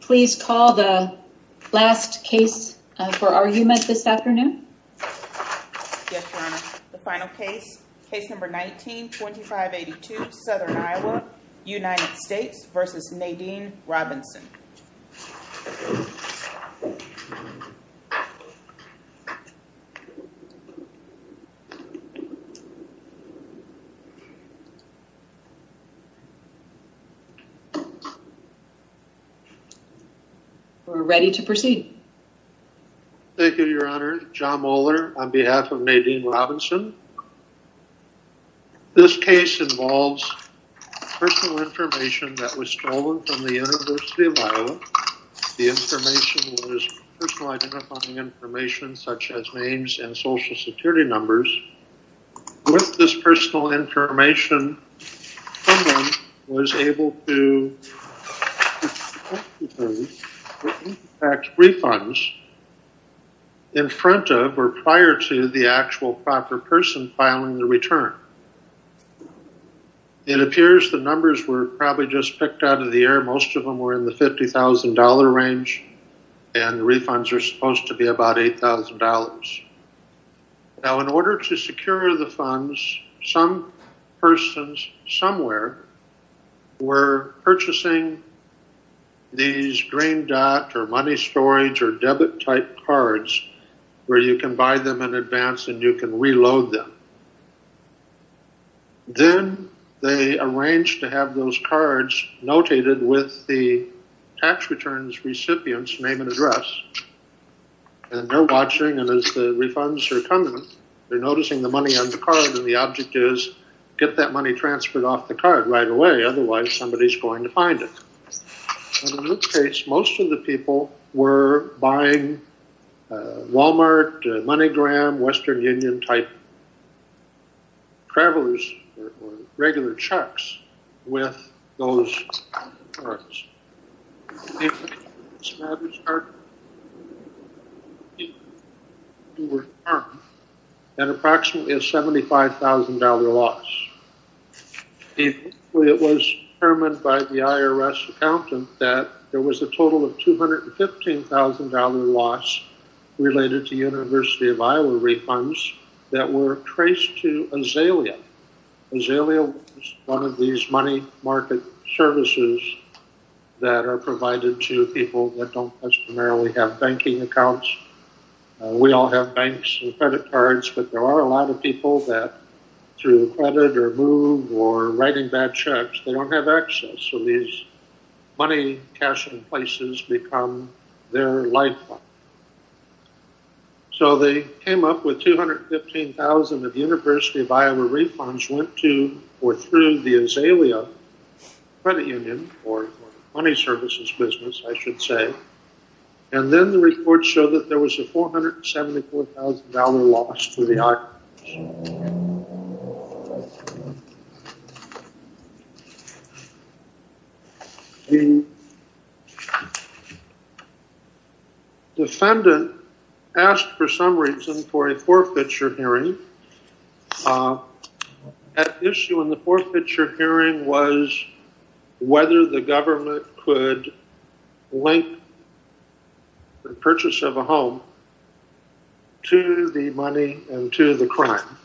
Please call the last case for argument this afternoon. Yes, Your Honor. The final case, case number 19-2582, Southern Iowa, United States v. Nadine Robinson. We're ready to proceed. Thank you, Your Honor. John Mohler on behalf of Nadine Robinson. This case involves personal information that was stolen from the University of Iowa. The information was personal identifying information such as names and social security numbers. With this personal information, someone was able to tax refunds in front of or prior to the actual proper person filing the return. It appears the numbers were probably just picked out of the air. Most of them were in the $50,000 range and the refunds are supposed to be about $8,000. Now in order to secure the funds, some persons somewhere were purchasing these green dot or money storage or debit type cards where you can buy them in advance and you can reload them. Then they arranged to have those cards notated with the tax returns recipient's name and address and they're watching and as the refunds are coming, they're noticing the money on the card and the object is get that money transferred off the card right away, otherwise somebody's going to find it. In this case, most of the people were buying Walmart, MoneyGram, Western Union type travelers or regular trucks with those cards. An approximately $75,000 loss. It was determined by the IRS accountant that there was a total of $215,000 loss related to University of Iowa refunds that were traced to Azalea. Azalea is one of these money market services that are provided to people that don't customarily have banking accounts. We all have banks and credit cards, but there are a lot of people that through credit or move or writing bad checks, they don't have access. So these money cashing places become their lifeline. So they came up with $215,000 of University of Iowa refunds went to or through the Azalea credit union or money services business, I should say. And then the report showed that there was a $474,000 loss to the IRS. The defendant asked for some reason for a forfeiture hearing. At issue in the forfeiture hearing was whether the government could link the purchase of a home to the money and to the crime.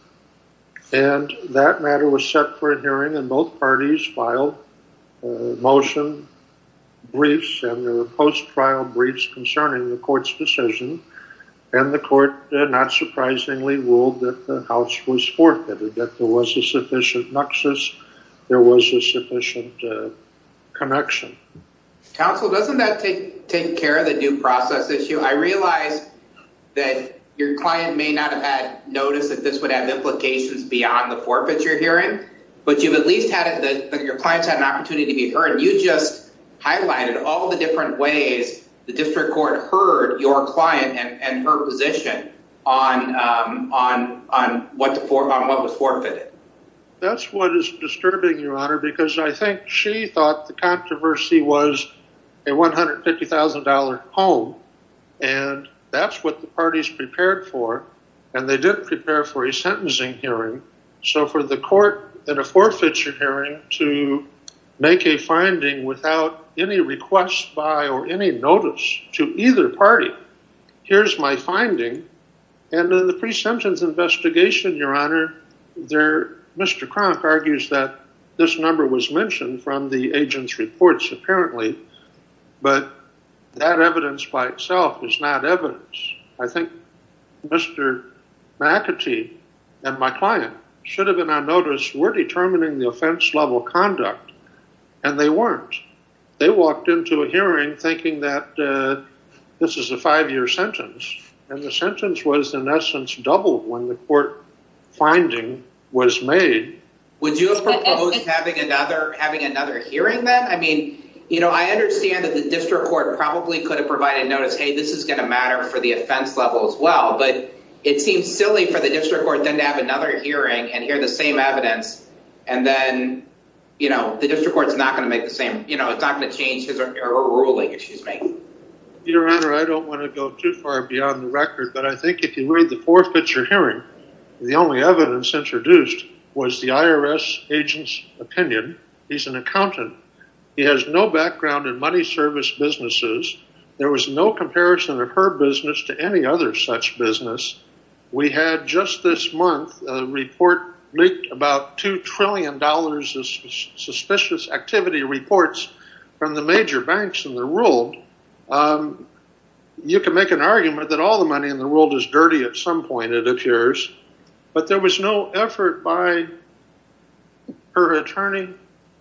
And that matter was set for a hearing and both parties filed motion briefs and the post trial briefs concerning the court's decision. And the court did not surprisingly ruled that the house was forfeited that there was a sufficient nuxus. There was a process issue. I realized that your client may not have had noticed that this would have implications beyond the forfeiture hearing. But you've at least had your clients had an opportunity to be heard. You just highlighted all the different ways the district court heard your client and her position on on on what to form on what was forfeited. That's what is disturbing your honor because I think she thought the controversy was a $150,000 home and that's what the parties prepared for and they didn't prepare for a sentencing hearing. So for the court at a forfeiture hearing to make a finding without any requests by or any notice to either party. Here's my finding and then the pre-sentence investigation your honor there Mr. Cronk argues that this number was mentioned from the agent's apparently but that evidence by itself is not evidence. I think Mr. McAtee and my client should have been on notice we're determining the offense level conduct and they weren't. They walked into a hearing thinking that this is a five-year sentence and the sentence was in essence doubled when the court finding was made. Would you propose having another hearing then? I mean you know I understand that the district court probably could have provided notice hey this is going to matter for the offense level as well but it seems silly for the district court then to have another hearing and hear the same evidence and then you know the district court's not going to make the same you know it's not going to change his ruling if she's making. Your honor I don't want to go too far beyond the record but I think if you read the forfeiture hearing the only evidence introduced was the IRS agent's opinion. He's an accountant he has no background in money service businesses there was no comparison of her business to any other such business. We had just this month a report leaked about two trillion dollars of suspicious activity reports from the major banks in the world. You can make an argument that all the money in the appears but there was no effort by her attorney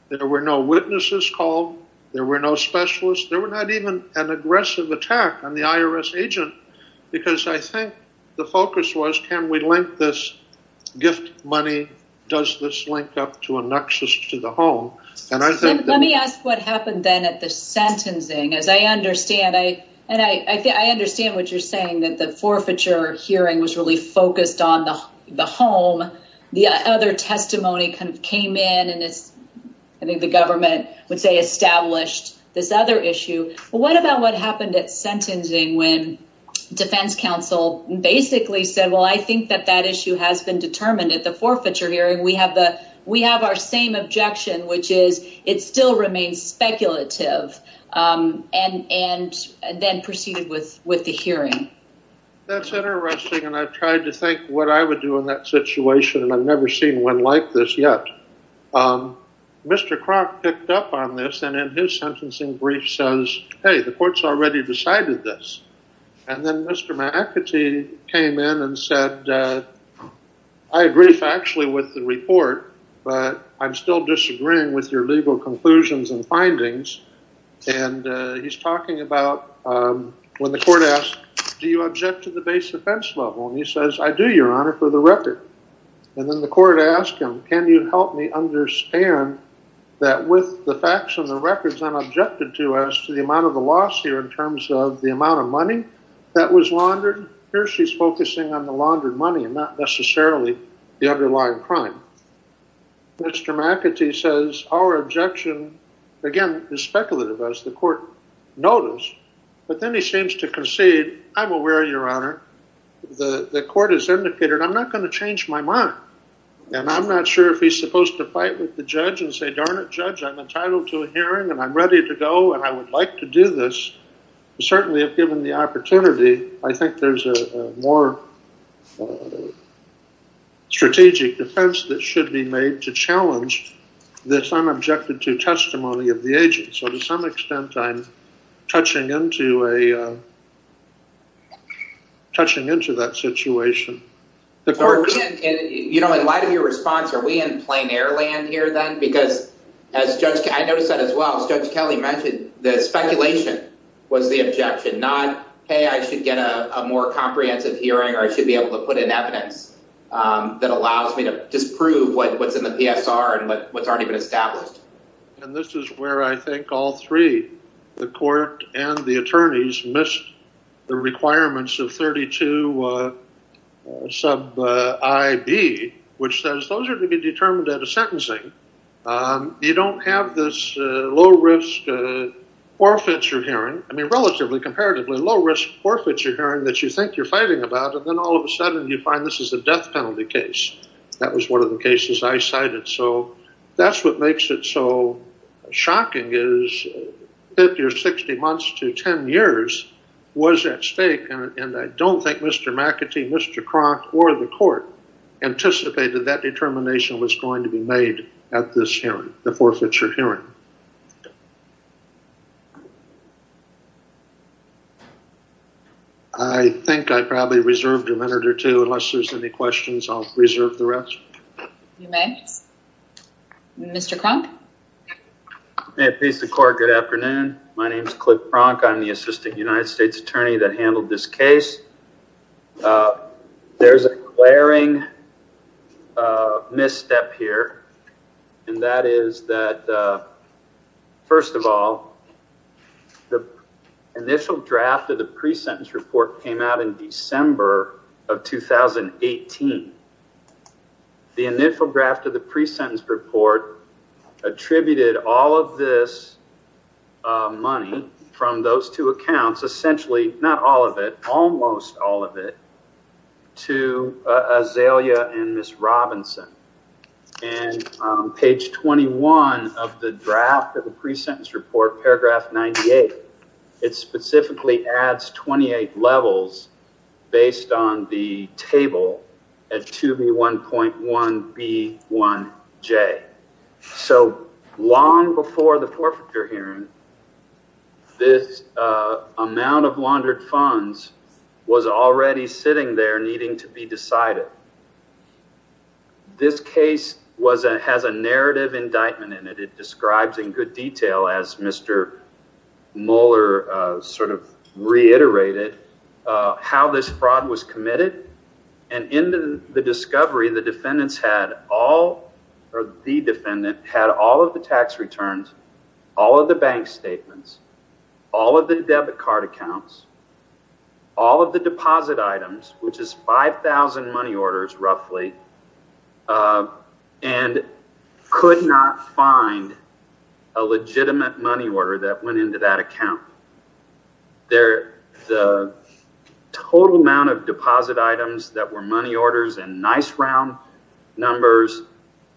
there were no witnesses called there were no specialists there were not even an aggressive attack on the IRS agent because I think the focus was can we link this gift money does this link up to a nuxtious to the home and I think. Let me ask what happened then at the sentencing as I understand I and I think I understand what you're saying that the forfeiture hearing was really focused on the home the other testimony kind of came in and it's I think the government would say established this other issue what about what happened at sentencing when defense counsel basically said well I think that that issue has been determined at the forfeiture hearing we have the we have our same objection which is it still that's interesting and I've tried to think what I would do in that situation and I've never seen one like this yet. Mr. Kroc picked up on this and in his sentencing brief says hey the court's already decided this and then Mr. McAtee came in and said I agree factually with the report but I'm still disagreeing with your legal conclusions and findings and he's talking about when the court asks do you object to the base offense level and he says I do your honor for the record and then the court asked him can you help me understand that with the facts and the records I'm objected to as to the amount of the loss here in terms of the amount of money that was laundered here she's focusing on the laundered money and not necessarily the underlying crime. Mr. McAtee says our objection again is speculative as the court noticed but then he seems to concede I'm aware your honor the the court has indicated I'm not going to change my mind and I'm not sure if he's supposed to fight with the judge and say darn it judge I'm entitled to a hearing and I'm ready to go and I would like to do this certainly have given the opportunity I think there's a more strategic defense that should be made to challenge this I'm objected to testimony of the agent so to some extent I'm touching into a touching into that situation. You know in light of your response are we in plain air land here then because as judge I noticed that as well as Judge Kelly mentioned the speculation was the objection not hey I should get a more comprehensive hearing or I that allows me to disprove what's in the PSR and what's already been established. And this is where I think all three the court and the attorneys missed the requirements of 32 sub I.B. which says those are to be determined at a sentencing you don't have this low risk forfeiture hearing I mean relatively comparatively low risk forfeiture hearing that you think you're this is a death penalty case that was one of the cases I cited so that's what makes it so shocking is 50 or 60 months to 10 years was at stake and I don't think Mr. McAtee Mr. Cronk or the court anticipated that determination was going to be made at this hearing the forfeiture hearing. I think I probably reserved a minute or two unless there's any questions I'll reserve the rest. You may. Mr. Cronk. May it please the court good afternoon my name is Cliff Cronk I'm the assistant United States attorney that handled this case. There's a glaring misstep here and that is that first of all the initial draft of the pre-sentence report came out in December of 2018. The initial draft of the pre-sentence report attributed all of this money from those 2 accounts essentially not all of it almost all of it to Azalea and Ms. Robinson and page 21 of the draft of the pre-sentence report paragraph 98 it specifically adds 28 levels based on the amount of laundered funds was already sitting there needing to be decided. This case was a has a narrative indictment in it it describes in good detail as Mr. Mueller sort of reiterated how this fraud was committed and in the discovery the defendants had all or the defendant had all of the tax returns all of the bank statements all of the debit card accounts all of the deposit items which is 5,000 money orders roughly and could not find a legitimate money order that went into that account there the total amount of deposit items that were money orders and nice round numbers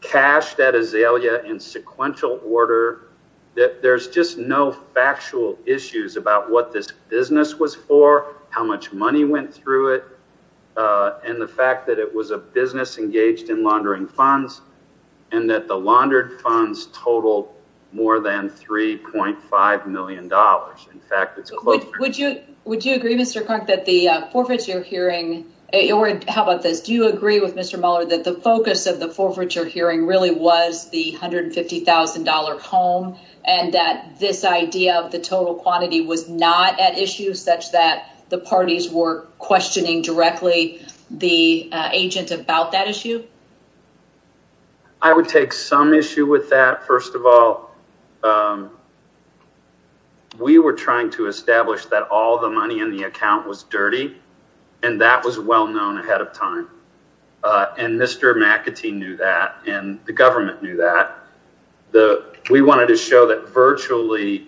cashed at Azalea in sequential order that there's just no factual issues about what this business was for how much money went through it and the fact that it was a business engaged in laundering funds and that the laundered funds total more than $3.5 million dollars in fact it's close would you would you agree Mr. Krunk that the forfeiture hearing or how about this do you agree with Mr. Mueller that the focus of the forfeiture hearing really was the $150,000 home and that this idea of the total quantity was not at issue such that the parties were questioning directly the agent about that issue? I would take some issue with that first of all we were trying to establish that all the money in the account was dirty and that was well known ahead of time and Mr. McAtee knew that and the government knew that the we wanted to show that virtually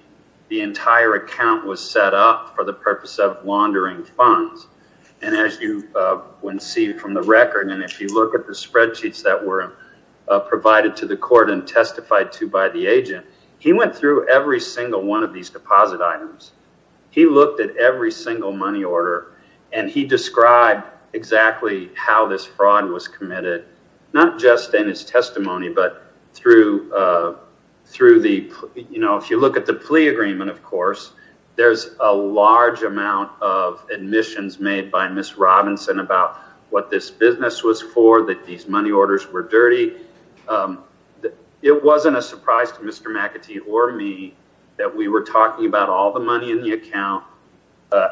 the entire account was set up for the purpose of laundering funds and as you would see from the record and if you look at the spreadsheets that were provided to the court and testified to by the agent he went through every single one of these deposit items he looked at every single money order and he described exactly how this fraud was committed not just in his testimony but through through the you know if you look at the plea agreement of course there's a large amount of admissions made by Miss Robinson about what this business was for that these money orders were dirty it wasn't a surprise to Mr. McAtee or me that we were talking about all the money in the account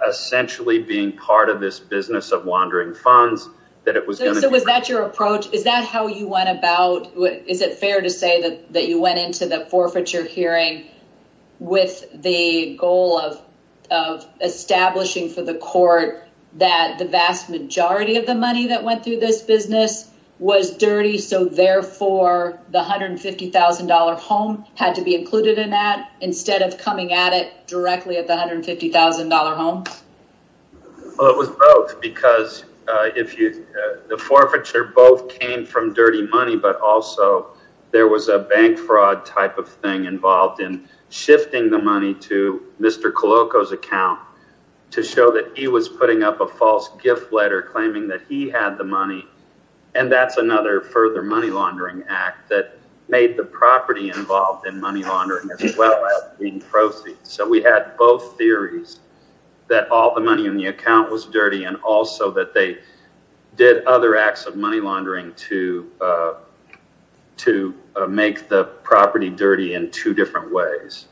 essentially being part of this business of wandering funds that it was going to was that your approach is that how you went about what is it fair to say that that you went into the forfeiture hearing with the goal of of establishing for the court that the vast majority of the money that went through this business was dirty so therefore the $150,000 home had to be included in that instead of coming at it directly at the $150,000 home? Well it was both because uh if you the forfeiture both came from dirty money but also there was a bank fraud type of thing involved in shifting the money to Mr. Koloko's account to show that he was putting up a false gift letter claiming that he had the money and that's another further money laundering act that made the property involved in money laundering as well as being proceeds so we had both theories that all the money in the account was dirty and also that they did other acts of money laundering to uh to make the property dirty in two different ways.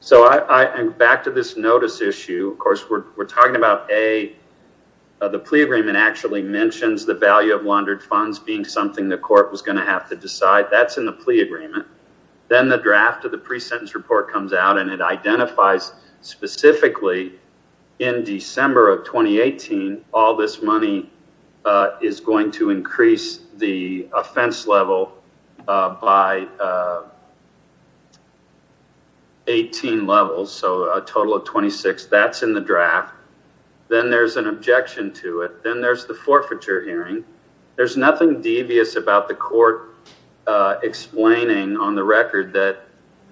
So I'm back to this notice issue of course we're talking about a the plea agreement actually mentions the value of laundered funds being something the court was going to have to decide that's in the plea agreement then the draft of the pre-sentence report comes out and it identifies specifically in December of 2018 all this money is going to increase the offense level by 18 levels so a total of 26 that's in the draft then there's an objection to it then there's the forfeiture hearing there's nothing devious about the court explaining on the record that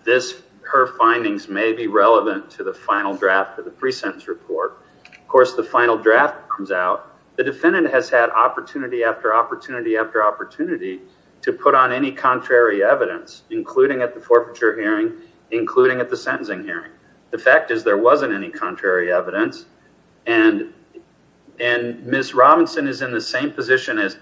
this her findings may be relevant to the final draft of the pre-sentence report of course the final draft comes out the defendant has had opportunity after opportunity after opportunity to put on any contrary evidence including at the forfeiture hearing including at the sentencing hearing the fact is there wasn't any contrary evidence and and Ms. Robinson is in the same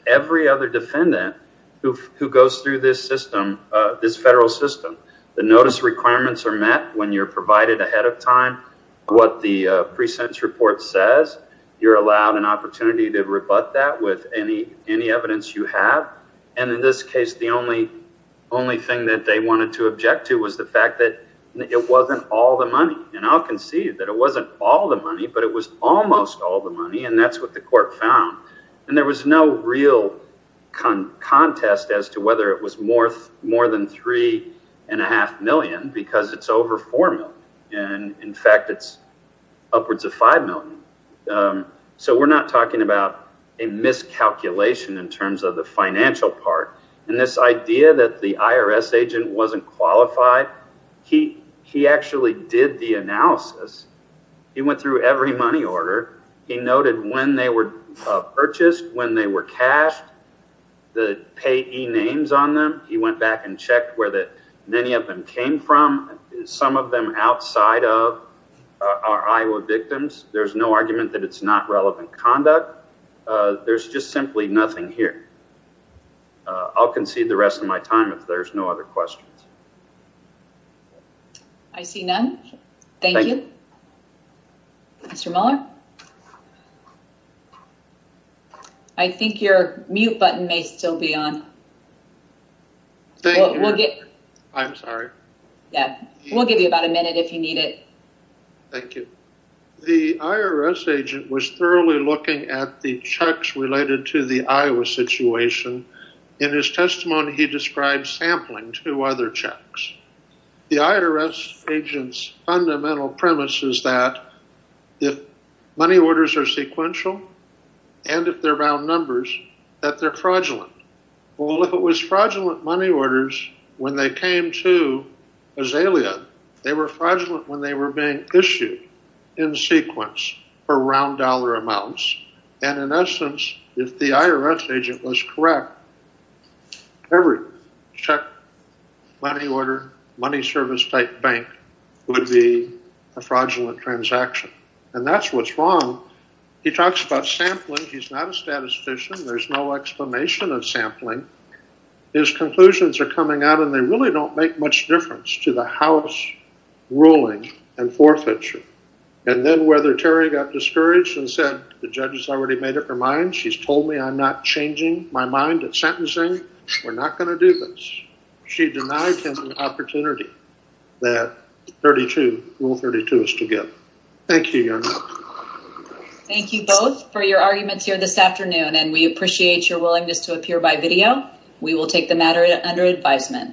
every other defendant who who goes through this system uh this federal system the notice requirements are met when you're provided ahead of time what the uh pre-sentence report says you're allowed an opportunity to rebut that with any any evidence you have and in this case the only only thing that they wanted to object to was the fact that it wasn't all the money and I'll concede that it wasn't all the money but it was almost all the money and that's what the court found and there was no real con contest as to whether it was more more than three and a half million because it's over four million and in fact it's upwards of five million um so we're not talking about a miscalculation in terms of the financial part and this idea that the IRS agent wasn't qualified he he actually did the analysis he went through every money order he noted when they were purchased when they were cashed the payee names on them he went back and checked where that many of them came from some of them outside of our Iowa victims there's no argument that it's not relevant conduct uh there's just simply nothing here I'll concede the rest of my time there's no other questions I see none thank you Mr. Muller I think your mute button may still be on thank you we'll get I'm sorry yeah we'll give you about a minute if you need it thank you the IRS agent was thoroughly looking at the checks related to the Iowa situation in his testimony he described sampling two other checks the IRS agent's fundamental premise is that if money orders are sequential and if they're bound numbers that they're fraudulent well if it was fraudulent money orders when they came to Azalea they were fraudulent when they were being issued in sequence for round dollar amounts and in essence if the IRS agent was correct every check money order money service type bank would be a fraudulent transaction and that's what's wrong he talks about sampling he's not a statistician there's no explanation of sampling his conclusions are coming out and they really don't make much difference to the house ruling and forfeiture and then whether Terry got discouraged and said the judge has already made up her mind she's told me I'm not changing my mind at sentencing we're not going to do this she denied him an opportunity that 32 rule 32 is to give thank you young man thank you both for your arguments here this afternoon and we appreciate your willingness to appear by video we will take the matter under advisement